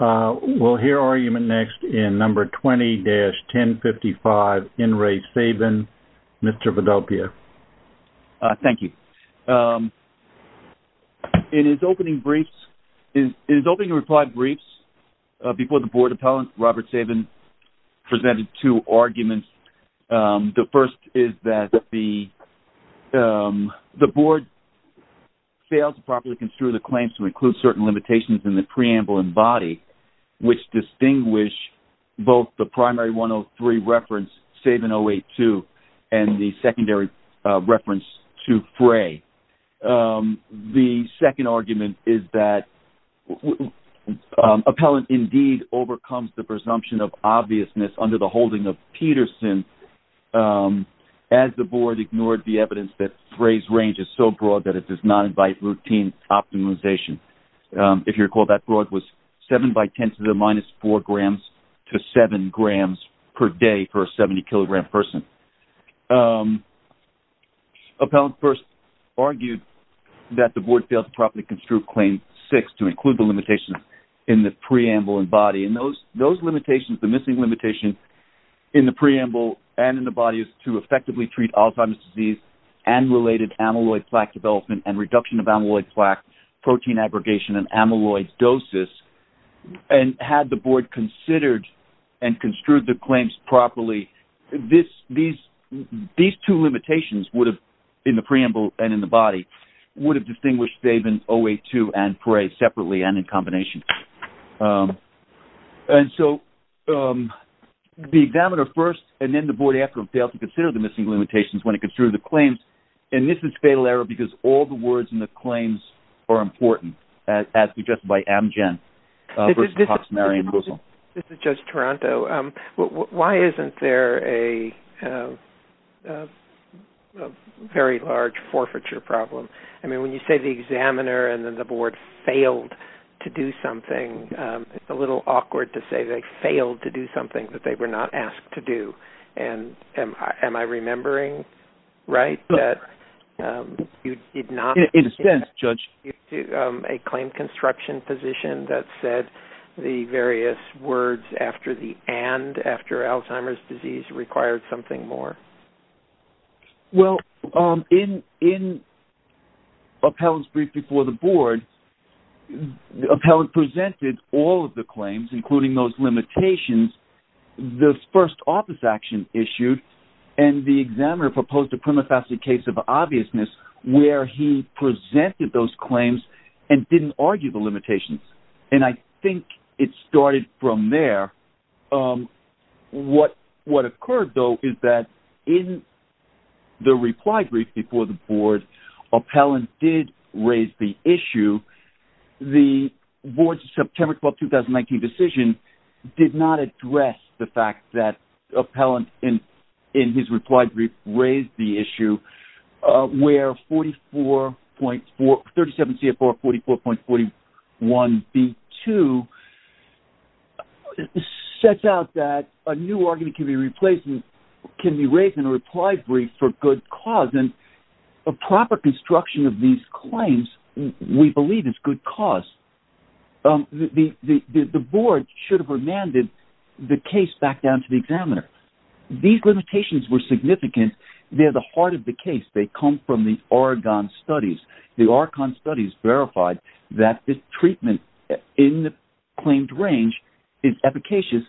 We'll hear argument next in number 20-1055, In Re Sabin, Mr. Vidalpia. Thank you. In his opening briefs, in his opening reply briefs before the board appellants, Robert Sabin presented two arguments. The first is that the the board failed to properly construe the claims to include certain limitations in the preamble and body which distinguish both the primary 103 reference Sabin 082 and the secondary reference to Frey. The second argument is that appellant indeed overcomes the presumption of obviousness under the holding of Peterson as the board ignored the evidence that Frey's range is so broad that it does not invite routine optimization. If you recall that broad was 7 by 10 to the minus 4 grams to 7 grams per day for a 70 kilogram person. Appellant first argued that the board failed to properly construe claim 6 to include the limitations in the preamble and body and those those limitations the missing limitation in the preamble and in the body is to effectively treat Alzheimer's disease and related amyloid plaque development and reduction of amyloid plaque protein abrogation and amyloidosis and had the board considered and construed the claims properly this these these two limitations would have in the preamble and in the body would have distinguished Sabin 082 and Frey separately and in combination. And so the examiner first and then the board they have to fail to consider the missing limitations when it gets through the claims and this is fatal error because all the words in the claims are important as suggested by Amgen versus Cox, Mary and Bozell. This is Judge Taranto, why isn't there a very large forfeiture problem I mean when you say the examiner and then the board failed to do something it's a little awkward to say they failed to do and am I remembering right that you did not in a sense judge to a claim construction position that said the various words after the and after Alzheimer's disease required something more? Well in in appellants brief before the board the appellant presented all of the claims including those limitations the first office action issued and the examiner proposed a prima facie case of obviousness where he presented those claims and didn't argue the limitations and I think it started from there what what occurred though is that in the reply brief before the board appellant did raise the issue the board's September 12, 2019 decision did not address the fact that appellant in in his replied brief raised the issue where 44.4 37 CFR 44.41 B2 sets out that a new argument can be replaced can be raised in a reply brief for good cause and a proper construction of these claims we believe it's good cause the the board should have remanded the case back down to the examiner these limitations were significant they're the heart of the case they come from the Oregon studies the Oregon studies verified that this treatment in the claimed range is efficacious.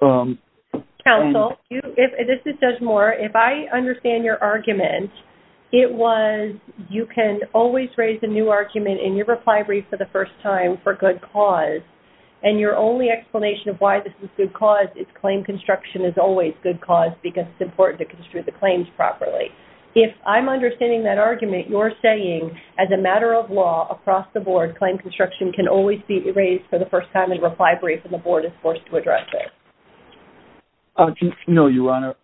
Counsel if this is Judge Moore if I understand your argument it was you can always raise a new argument in your reply brief for the first time for good cause and your only explanation of why this is good cause it's claim construction is always good cause because it's important to construe the claims properly if I'm understanding that argument you're saying as a matter of law across the board claim construction can always be erased for the first time in reply brief and the board is forced to address it. No your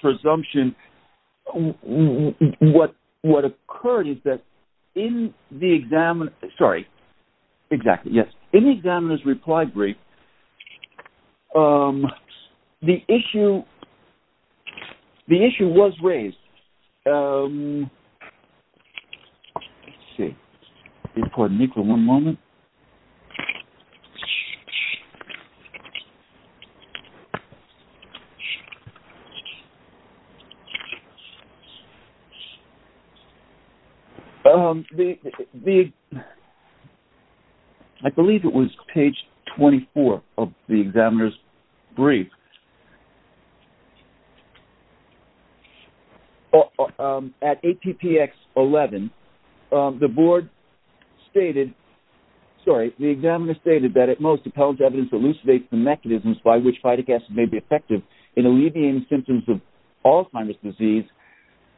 presumption what what occurred is that in the exam sorry exactly yes in the examiner's reply brief the issue the issue was raised I believe it was page 24 of the examiner's brief at ATPX 11 the board stated sorry the examiner stated that at most appellate evidence elucidates the mechanisms by which phytic acid may be effective in alleviating symptoms of Alzheimer's disease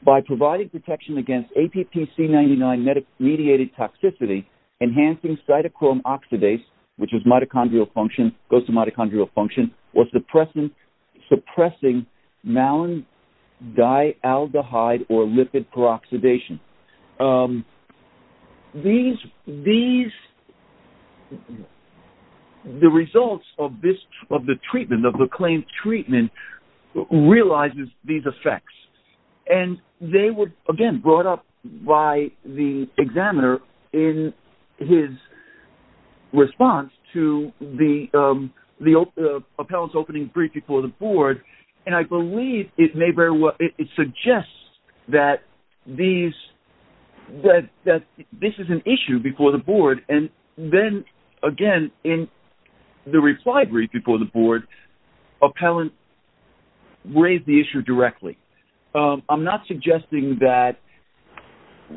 by providing detection against app c99 medic mediated toxicity enhancing cytochrome oxidase which is mitochondrial function goes to mitochondrial function or suppressant suppressing malady aldehyde or lipid peroxidation these these the results of this of the treatment of the claim treatment realizes these effects and they would again brought up by the examiner in his response to the the appellate's opening brief before the board and I believe it may bear what it suggests that these that that this is an appellant raised the issue directly I'm not suggesting that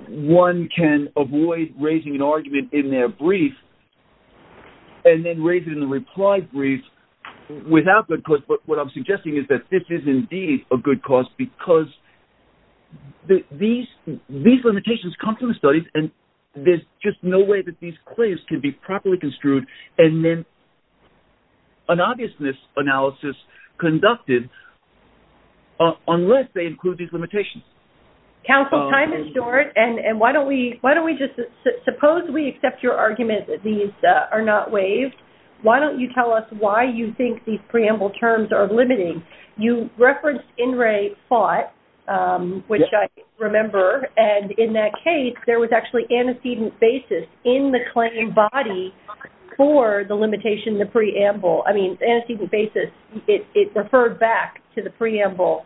one can avoid raising an argument in their brief and then raise it in the reply brief without the course but what I'm suggesting is that this is indeed a good cause because the these these limitations come from the studies and there's just no way that these claims can be properly construed and then an obviousness analysis conducted unless they include these limitations counsel time is short and and why don't we why don't we just suppose we accept your argument that these are not waived why don't you tell us why you think these preamble terms are limiting you reference in Ray fought which I remember and in that case there was actually antecedent basis in the claim body for the limitation the preamble I mean antecedent basis it referred back to the preamble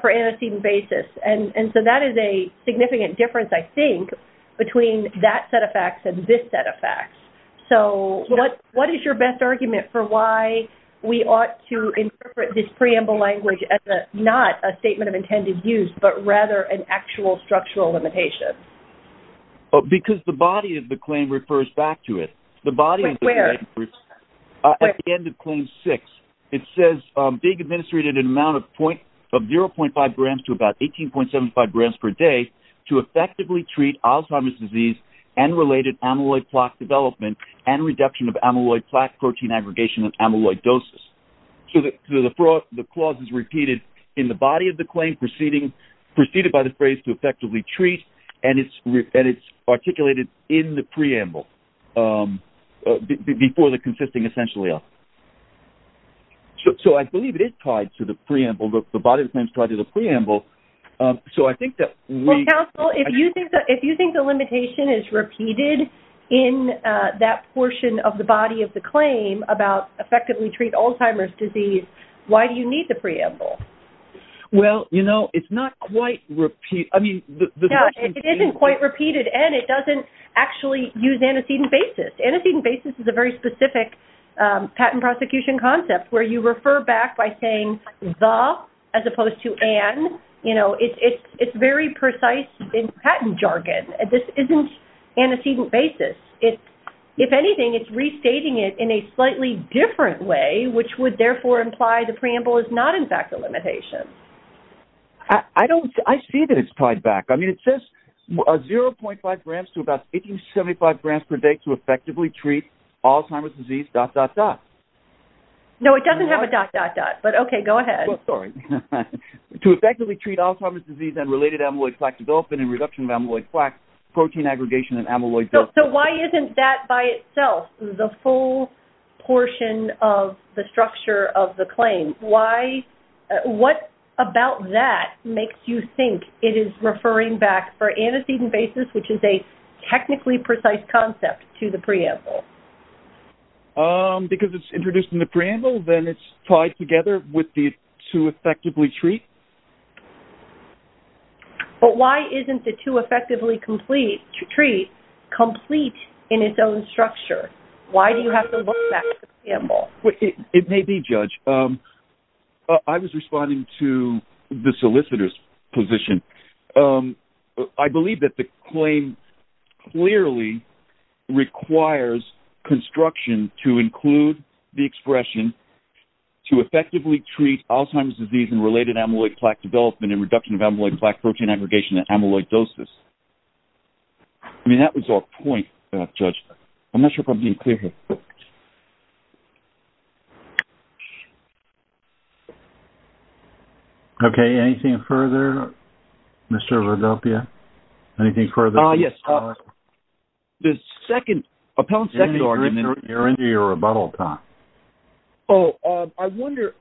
for antecedent basis and and so that is a significant difference I think between that set of facts and this set of facts so what what is your best argument for why we ought to interpret this preamble language as not a statement of intended use but rather an actual structural limitation because the body of the claim refers back to it the body of the end of claim six it says big administrated an amount of point of 0.5 grams to about 18.75 grams per day to effectively treat Alzheimer's disease and related amyloid plaque development and reduction of amyloid plaque protein aggregation of amyloidosis so that the fraud the clause is repeated in the body of the claim proceeding preceded by the phrase to effectively treat and it's and it's articulated in the preamble before the consisting essentially up so I believe it is tied to the preamble look the body of claims try to the preamble so I think that if you think that if you think the limitation is repeated in that portion of the body of the claim about effectively treat Alzheimer's disease why do you need the preamble well you know it's not quite repeat I mean it isn't quite repeated and it doesn't actually use antecedent basis antecedent basis is a very specific patent prosecution concept where you refer back by saying the as opposed to an you know it's it's very precise in patent jargon and this isn't antecedent basis it if anything it's restating it in a slightly different way which would therefore imply the preamble is not in fact a limitation I don't I see that it's tied back I mean it says 0.5 grams to about 1875 grams per day to effectively treat Alzheimer's disease dot dot dot no it doesn't have a dot dot dot but okay go ahead sorry to effectively treat Alzheimer's disease and related amyloid plaque development and reduction of amyloid plaque protein aggregation and amyloid so why isn't that by itself the full portion of the structure of the claim why what about that makes you think it is referring back for antecedent basis which is a technically precise concept to the preamble because it's introduced in the preamble then it's tied together with the to effectively treat but why isn't the to effectively complete to treat complete in its own structure why do you have to look back it may be judge I was responding to the solicitors position I believe that the claim clearly requires construction to include the expression to effectively treat Alzheimer's disease and related amyloid plaque development in reduction of amyloid plaque protein aggregation and amyloidosis I mean that was our point judge I'm not sure if I'm being clear here okay anything further mr. Rodopia anything further yes the second second argument you're into your rebuttal time oh I wonder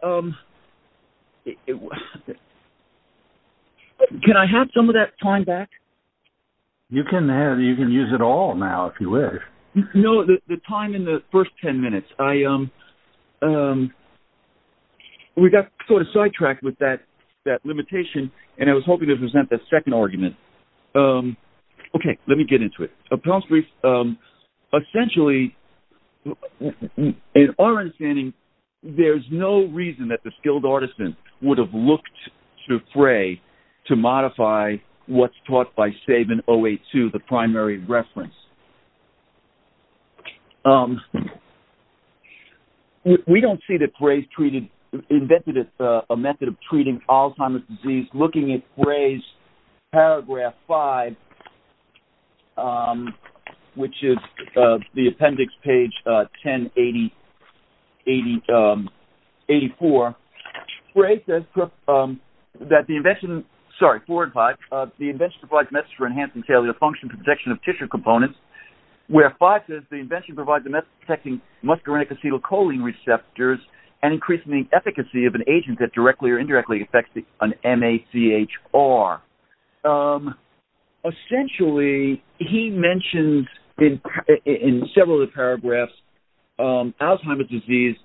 can I have some of that time back you can have you can use it all now if you wish no the time in the first 10 minutes I am we got sort of sidetracked with that that limitation and I was hoping to present the second argument okay let me get into it a prompt brief essentially in our understanding there's no reason that the skilled artisan would have looked to fray to modify what's taught by Sabin 08 to the primary reference we don't see that phrase treated invented it a method of treating Alzheimer's disease looking at phrase paragraph 5 which is the appendix page 10 80 80 84 phrases that the invention sorry four and five the invention provides message for enhancing failure function protection of tissue components where five says the invention provides a method protecting muscarinic acetylcholine receptors and increasing the efficacy of an agent that directly or indirectly affects the an MACH are essentially he mentioned in several of the paragraphs Alzheimer's disease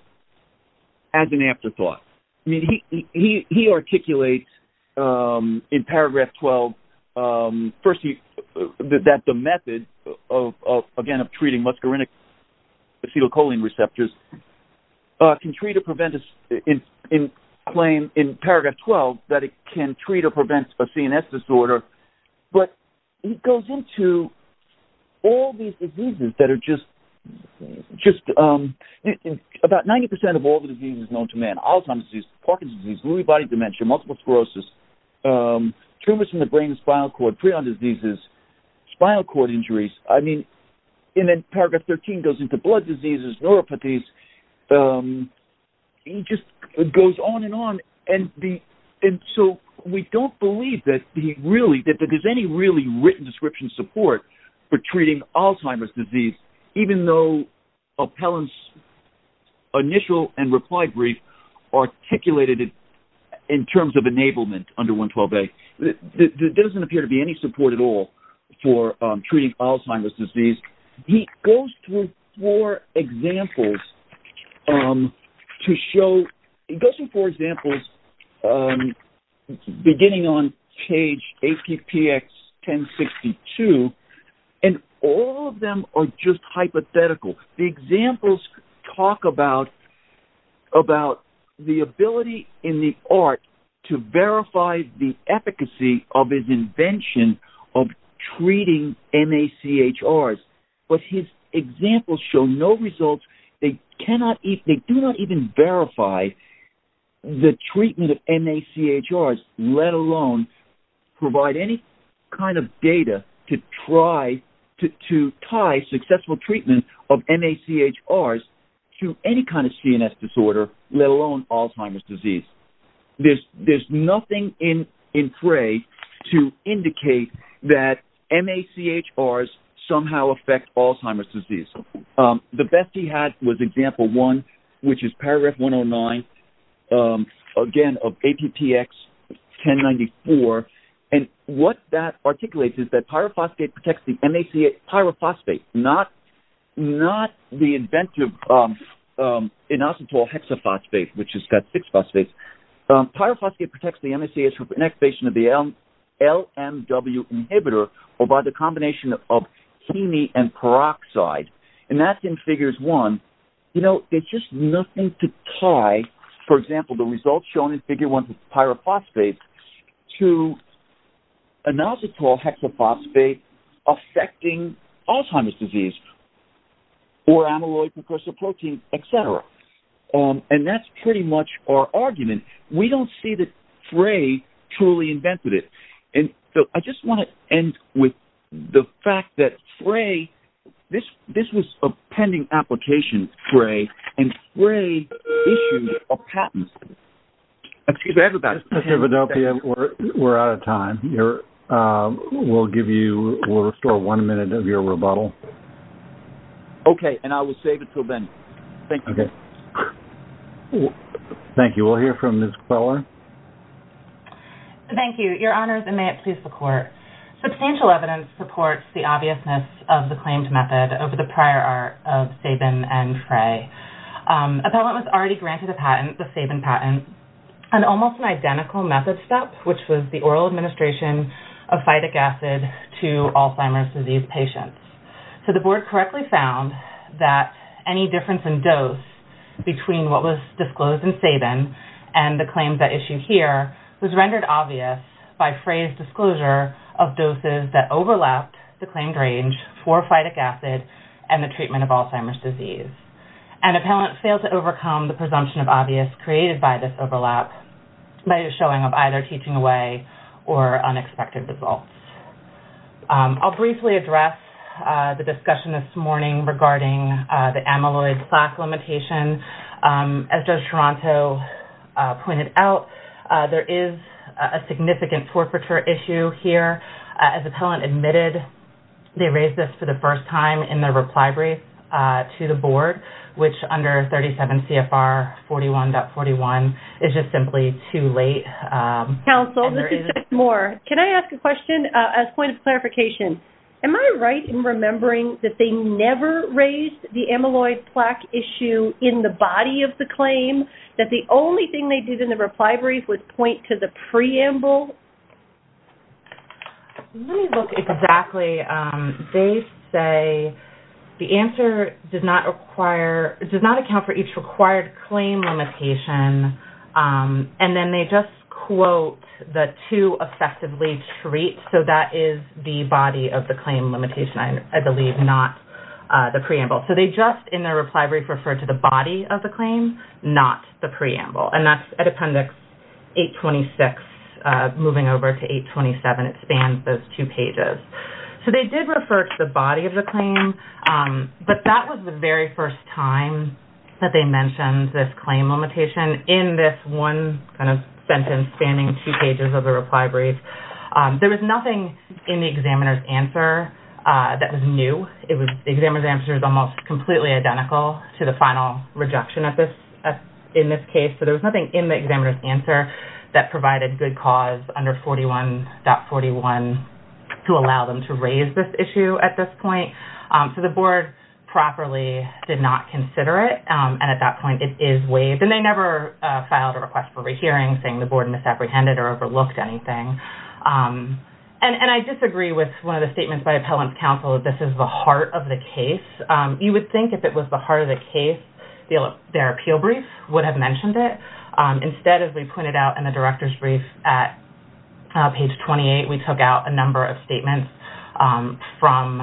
as an afterthought I mean he articulates in paragraph 12 first he that the method of again of treating muscarinic acetylcholine receptors can treat or prevent us in in claim in paragraph 12 that it can treat or prevent a CNS disorder but it goes into all these diseases that are just just about 90% of all the diseases known to man Alzheimer's disease Parkinson's disease Lewy body dementia multiple sclerosis tumors in the brain spinal cord prion diseases spinal cord injuries I mean and then paragraph 13 goes into blood diseases neuropathies he just goes on and on and the and so we don't believe that he really that there's any really written description support for treating Alzheimer's disease even though appellants initial and reply brief articulated it in terms of enablement under 112 a that doesn't appear to be any support at all for treating Alzheimer's disease he goes through four examples to show it doesn't for examples beginning on page 80 px 1062 and all of them are just hypothetical the examples talk about about the ability in the art to verify the machr but his example show no results they cannot eat they do not even verify the treatment of machr let alone provide any kind of data to try to tie successful treatment of machr to any kind of CNS disorder let alone Alzheimer's disease this there's nothing in in pray to indicate that machr somehow affect Alzheimer's disease the best he had was example one which is paragraph 109 again of 80 px 1094 and what that articulates is that pyrophosphate protects the machr pyrophosphate not not the inventive inositol hexaphosphate which has got six phosphates pyrophosphate protects the machr for inactivation of the LMW inhibitor or by the combination of hemi and peroxide and that's in figures one you know it's just nothing to tie for example the results shown in figure 1 pyrophosphate to inositol hexaphosphate affecting Alzheimer's disease or amyloid precursor protein etc and that's pretty much our argument we don't see that fray truly invented it and so I just want to end with the fact that fray this this was a pending application fray and fray excuse everybody we're out of time here we'll give you we'll restore one minute of your rebuttal okay and I will save it till then thank you thank you we'll hear from this color thank you your honors and may it please the court substantial evidence supports the obviousness of the claimed method over the prior art of Sabin and fray appellant was already granted a patent the Sabin patent and almost an identical method step which was the oral administration of phytic acid to Alzheimer's disease patients so the board correctly found that any difference in dose between what was disclosed in Sabin and the claims that issue here was rendered obvious by phrase disclosure of doses that overlapped the claimed range for phytic acid and the treatment of Alzheimer's disease and appellant failed to overcome the presumption of obvious created by this overlap by a showing of either teaching away or unexpected results I'll briefly address the discussion this morning regarding the amyloid plaque limitation as judge Toronto pointed out there is a significant torporature issue here as appellant admitted they raised this for the first time in their reply brief to the board which under 37 CFR 41.41 is just simply too late council this is more can I ask a question as point of clarification am I right in remembering that they never raised the amyloid plaque issue in the body of the claim that the only thing they did in the reply brief would point to the preamble look exactly they say the answer does not require it does not account for each required claim limitation and then they just quote that to effectively treat so that is the body of the claim limitation I believe not the preamble so they just in their reply brief referred to the body of the claim not the preamble and that's a appendix 826 moving over to 827 it spans those two pages so they did refer to the body of the claim but that was the very first time that they mentioned this claim limitation in this one kind of sentence spanning two pages of the reply brief there was nothing in the examiner's answer that was new it was examiner's answer is almost completely identical to the final rejection at this in this case so there was nothing in the examiner's answer that provided good cause under 41.41 to allow them to raise this issue at this point so the board properly did not consider it and at that point it is waived and they never filed a request for a hearing saying the board misapprehended or overlooked anything and and I disagree with one of the statements by appellants counsel that this is the heart of the case you would think if it was the heart of the case their appeal brief would have mentioned it instead as we pointed out in the directors brief at page 28 we took out a number of statements from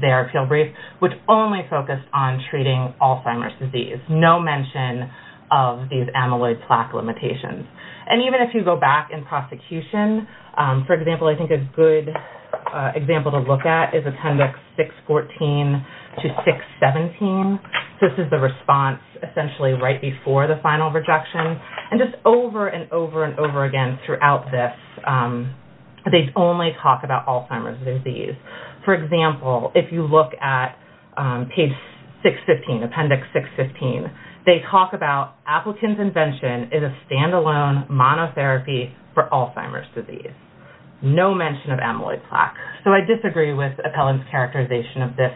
their appeal brief which only focused on treating Alzheimer's disease no mention of these amyloid plaque limitations and even if you go back in prosecution for example I think a good example to look at is appendix 614 to 617 this is the response essentially right before the final rejection and just over and over and over again throughout this they only talk about Alzheimer's disease for example if you look at page 615 appendix 615 they talk about applicants invention is a standalone monotherapy for Alzheimer's disease no mention of amyloid plaque so I disagree with appellants characterization of this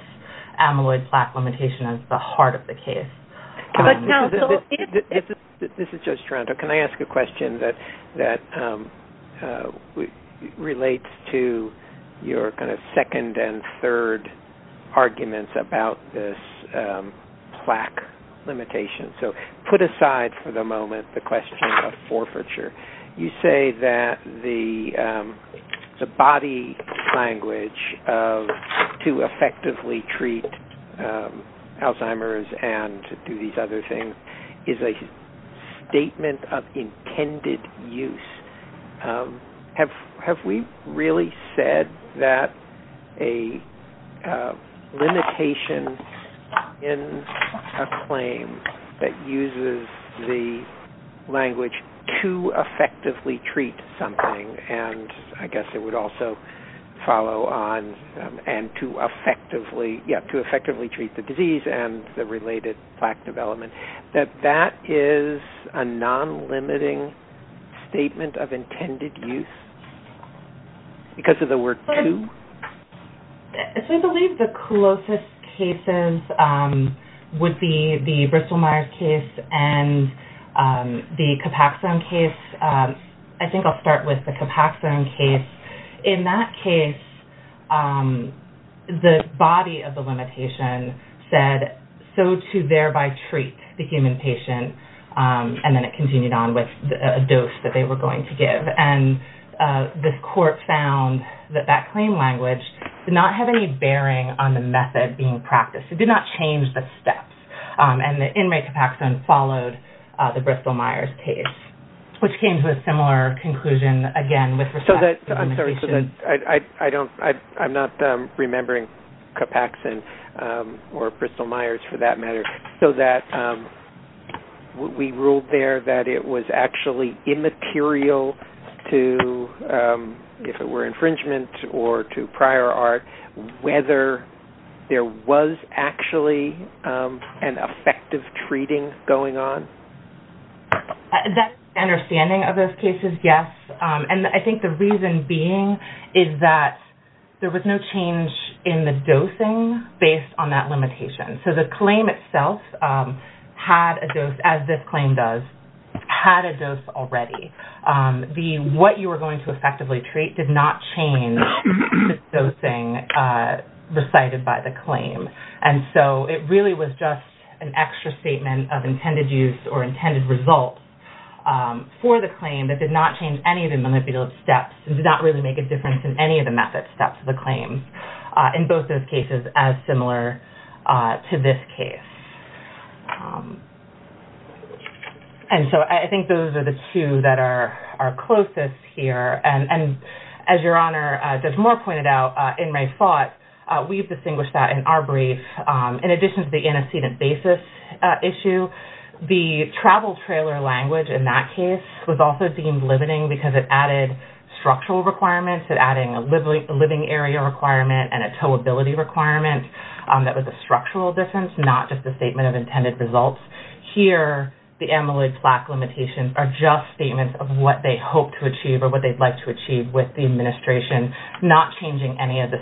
amyloid plaque limitation as the heart of the case this is just Toronto can I ask a question that that relates to your kind of second and third arguments about this plaque limitation so put aside for the moment the question of forfeiture you say that the body language to effectively treat Alzheimer's and do these other things is a statement of intended use have have we really said that a limitation in a claim that uses the language to effectively treat something and I guess it would also follow on and to effectively yet to effectively treat the disease and the related plaque development that that is a non-limiting statement of intended use because of the word to believe the closest cases would be the Bristol-Myers case and the Capaxone case I think I'll start with the Capaxone case in that case the body of the limitation said so thereby treat the human patient and then it continued on with a dose that they were going to give and this court found that that claim language did not have any bearing on the method being practiced it did not change the steps and the inmate Capaxone followed the Bristol-Myers case which came to a similar conclusion again with so that I'm sorry so that I don't I'm not remembering Capaxone or Bristol-Myers for that matter so that we ruled there that it was actually immaterial to if it were infringement or to prior art whether there was actually an effective treating going on that understanding of those cases yes and I think the reason being is that there was no change in the dosing based on that limitation so the claim itself had a dose as this claim does had a dose already the what you were going to effectively treat did not change those thing recited by the claim and so it really was just an extra statement of intended use or intended results for the claim that did not change any of the manipulative steps and did not really make a difference in any of the method steps of the claim in both those cases as similar to this case and so I think those are the two that are our closest here and and as your honor there's more pointed out in my thought we've distinguished that in our brief in addition to the antecedent basis issue the travel trailer language in that case was also deemed limiting because it added structural requirements that adding a living living area requirement and a toe ability requirement that was a structural difference not just a statement of intended results here the amyloid plaque limitations are just statements of what they hope to achieve or what they'd like to achieve with the administration not changing any of the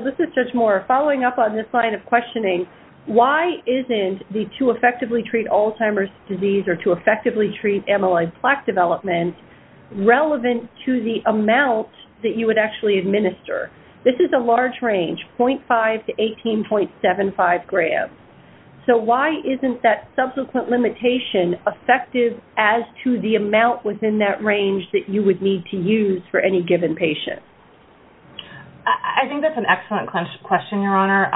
this is just more following up on this line of questioning why isn't the to effectively treat Alzheimer's disease or to effectively treat amyloid plaque development relevant to the amount that you would actually administer this is a large range 0.5 to 18.75 grams so why isn't that subsequent limitation effective as to the amount within that range that you would need to use for any patient I think that's an excellent question your honor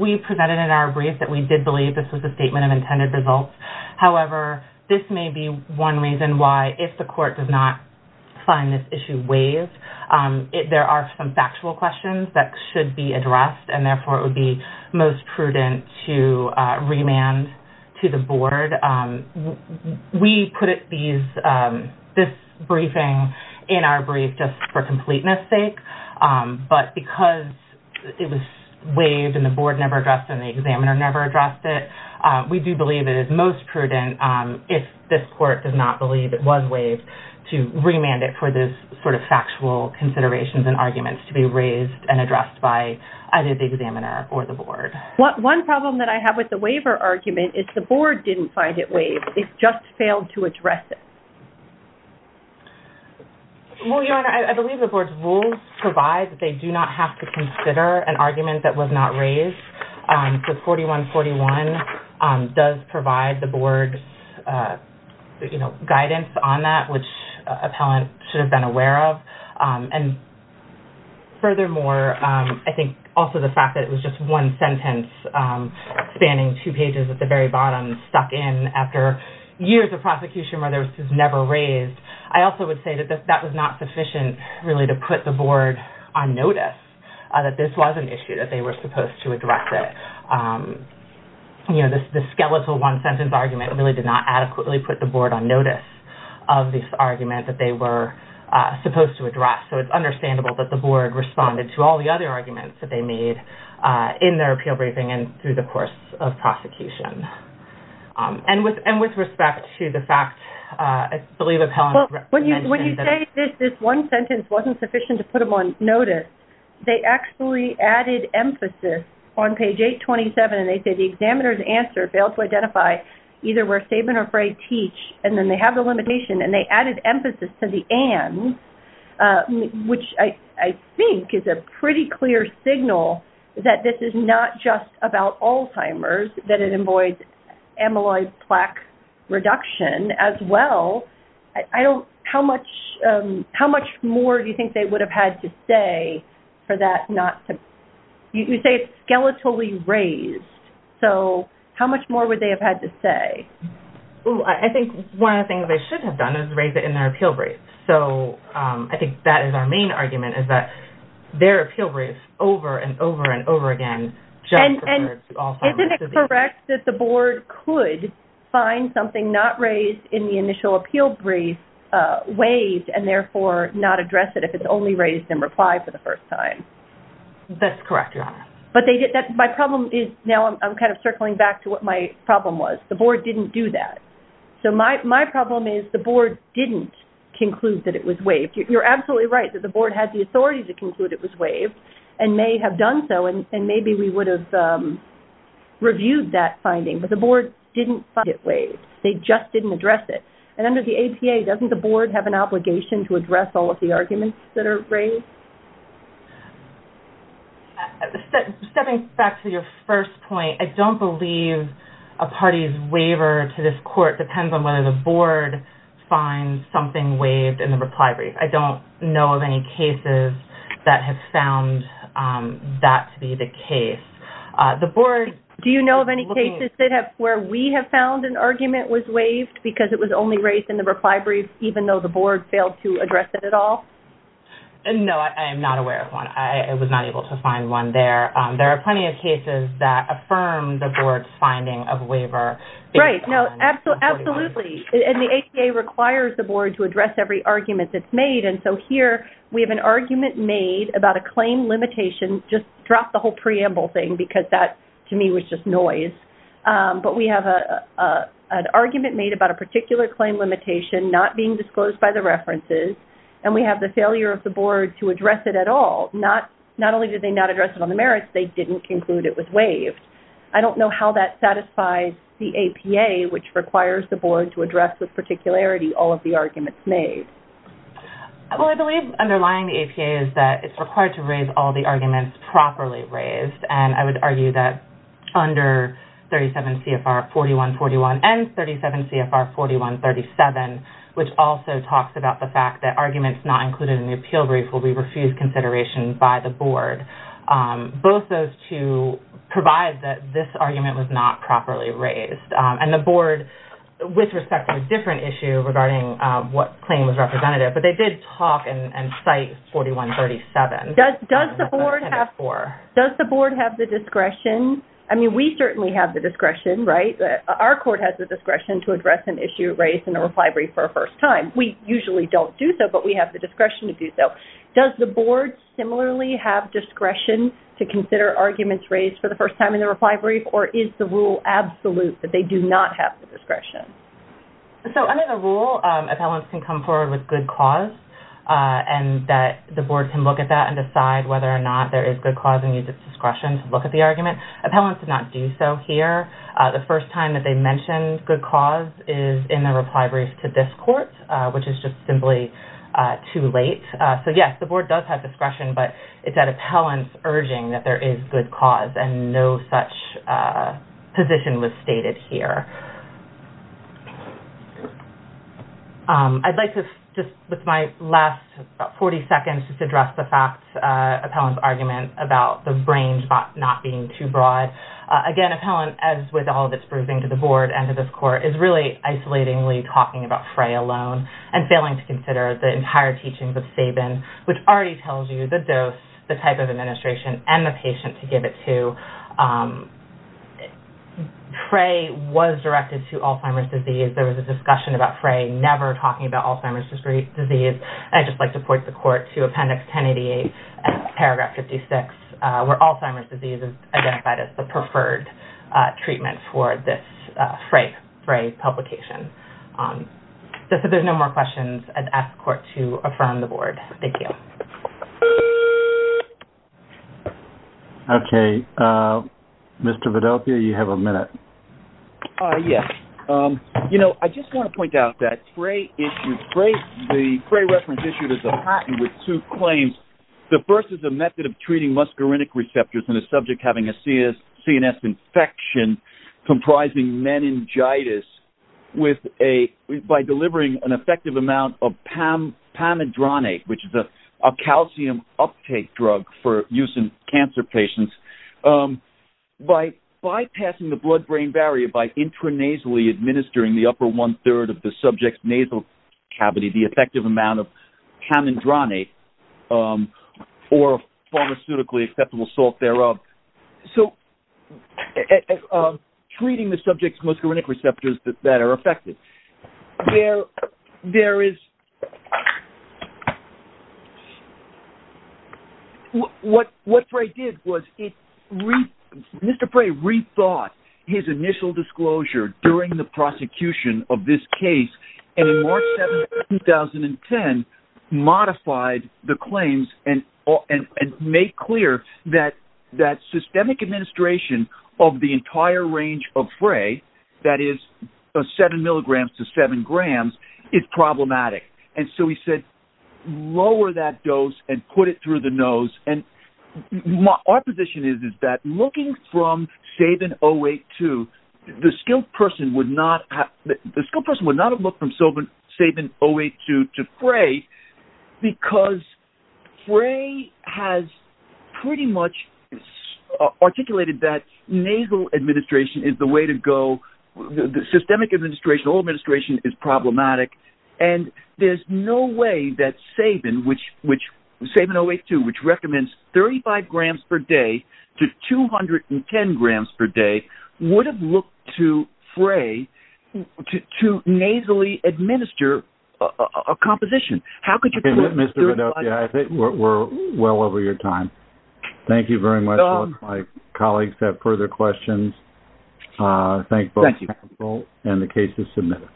we presented in our brief that we did believe this was a statement of intended results however this may be one reason why if the court does not find this issue ways if there are some factual questions that should be addressed and therefore it would be most prudent to remand to the board we put it these this briefing in our brief just for completeness sake but because it was waived and the board never addressed and the examiner never addressed it we do believe it is most prudent if this court does not believe it was waived to remand it for this sort of factual considerations and arguments to be raised and addressed by either the examiner or the board what one problem that I have with the waiver argument is the board didn't find it waived it just failed to address it well your honor I believe the board's rules provide that they do not have to consider an argument that was not raised so 4141 does provide the board you know guidance on that which appellant should have been aware of and furthermore I think also the fact that it was just one sentence spanning two pages at the very bottom stuck in after years of prosecution where there was never raised I also would say that that was not sufficient really to put the board on notice that this was an issue that they were supposed to address it you know this skeletal one-sentence argument really did not adequately put the board on notice of this argument that they were supposed to address so it's understandable that the board responded to all the other arguments that they made in their appeal briefing and through the course of prosecution and with and with respect to the fact I believe if Helen when you when you say this this one sentence wasn't sufficient to put them on notice they actually added emphasis on page 827 and they said the examiner's answer failed to identify either we're saving or afraid teach and then they have the limitation and they added emphasis to the end which I think is a pretty clear signal that this is not just about Alzheimer's that it avoids amyloid plaque reduction as well I don't how much how much more do you think they would have had to say for that not to you say it's skeletally raised so how much more would they have had to say I think one of the things I should have done is raise it in their appeal brief so I think that is our main argument is that their appeal brief over and over and over again and is it correct that the board could find something not raised in the initial appeal brief waived and therefore not address it if it's only raised in reply for the first time that's correct but they did that my problem is now I'm kind of circling back to what my problem was the board didn't do that so my problem is the board didn't conclude that it was waived you're absolutely right that the board had the authority to conclude it was waived and may have done so and maybe we would have reviewed that finding but the board didn't get waived they just didn't address it and under the APA doesn't the board have an obligation to address all of the arguments that are raised stepping back to your first point I don't believe a party's waiver to this court depends on whether the board finds something waived in the reply brief I don't know of any cases that have found that to be the case the board do you know of any cases that have where we have found an argument was waived because it was only raised in the reply brief even though the board failed to address it at all and no I am not aware of one I was not able to find one there there are plenty of cases that affirmed the board's finding of waiver right no absolutely absolutely and the APA requires the board to address every argument that's made and so here we have an argument made about a claim limitation just drop the whole preamble thing because that to me was just noise but we have a an argument made about a particular claim limitation not being disclosed by the references and we have the failure of the board to address it at all not not only did they not address it on the merits they didn't conclude it was waived I don't know how that satisfies the APA which requires the well I believe underlying the APA is that it's required to raise all the arguments properly raised and I would argue that under 37 CFR 4141 and 37 CFR 4137 which also talks about the fact that arguments not included in the appeal brief will be refused consideration by the board both those two provide that this argument was not properly raised and the board with respect to a different issue regarding what claim was representative but they did talk and cite 4137 does does the board have for does the board have the discretion I mean we certainly have the discretion right that our court has the discretion to address an issue raised in a reply brief for a first time we usually don't do so but we have the discretion to do so does the board similarly have discretion to consider arguments raised for the first time in the reply brief or is the rule absolute that they do not have the discretion so under the rule appellants can come forward with good cause and that the board can look at that and decide whether or not there is good cause and use its discretion to look at the argument appellants did not do so here the first time that they mentioned good cause is in the reply brief to this court which is just simply too late so yes the board does have discretion but it's at appellants urging that there is good cause and no such position was stated here I'd like to just with my last 40 seconds just address the fact appellants argument about the brain spot not being too broad again appellant as with all this briefing to the board and to this court is really isolating Lee talking about fray alone and failing to consider the entire teachings of Sabin which already tells you the dose the type of administration and the patient to give it to pray was directed to Alzheimer's disease there was a discussion about fray never talking about Alzheimer's disease I just like to point the court to appendix 1088 paragraph 56 where Alzheimer's disease is identified as the preferred treatment for this fray fray publication so there's no more questions I'd ask the court to affirm the board thank you okay mr. Vidal Pia you have a minute yes you know I just want to point out that spray issues great the fray reference issued as a patent with two claims the first is a method of treating muscarinic receptors in a subject having a CS CNS infection comprising meningitis with a by delivering an effective amount of Pam Pam and Ronnie which is a calcium uptake drug for use in cancer patients by bypassing the blood-brain barrier by intranasally administering the upper one-third of the subject's nasal cavity the effective amount of cam and Ronnie or pharmaceutically acceptable salt thereof so treating the subjects muscarinic receptors that that are affected there there is what what I did was it mr. prey rethought his initial disclosure during the prosecution of modified the claims and and make clear that that systemic administration of the entire range of fray that is a seven milligrams to seven grams it's problematic and so we said lower that dose and put it through the nose and my opposition is is that looking from Sabin 08 to the skilled person would not have looked from so but Sabin 08 to to fray because fray has pretty much articulated that nasal administration is the way to go the systemic administration all administration is problematic and there's no way that Sabin which which Sabin 08 to which recommends 35 grams per day to 210 grams per day would have looked to fray to nasally administer a composition how could you do it mr. yeah I think we're well over your time thank you very much my colleagues have further questions thank you well and the case is submitted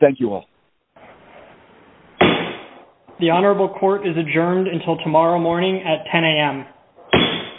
thank you all the honorable court is adjourned until tomorrow morning at 10 a.m.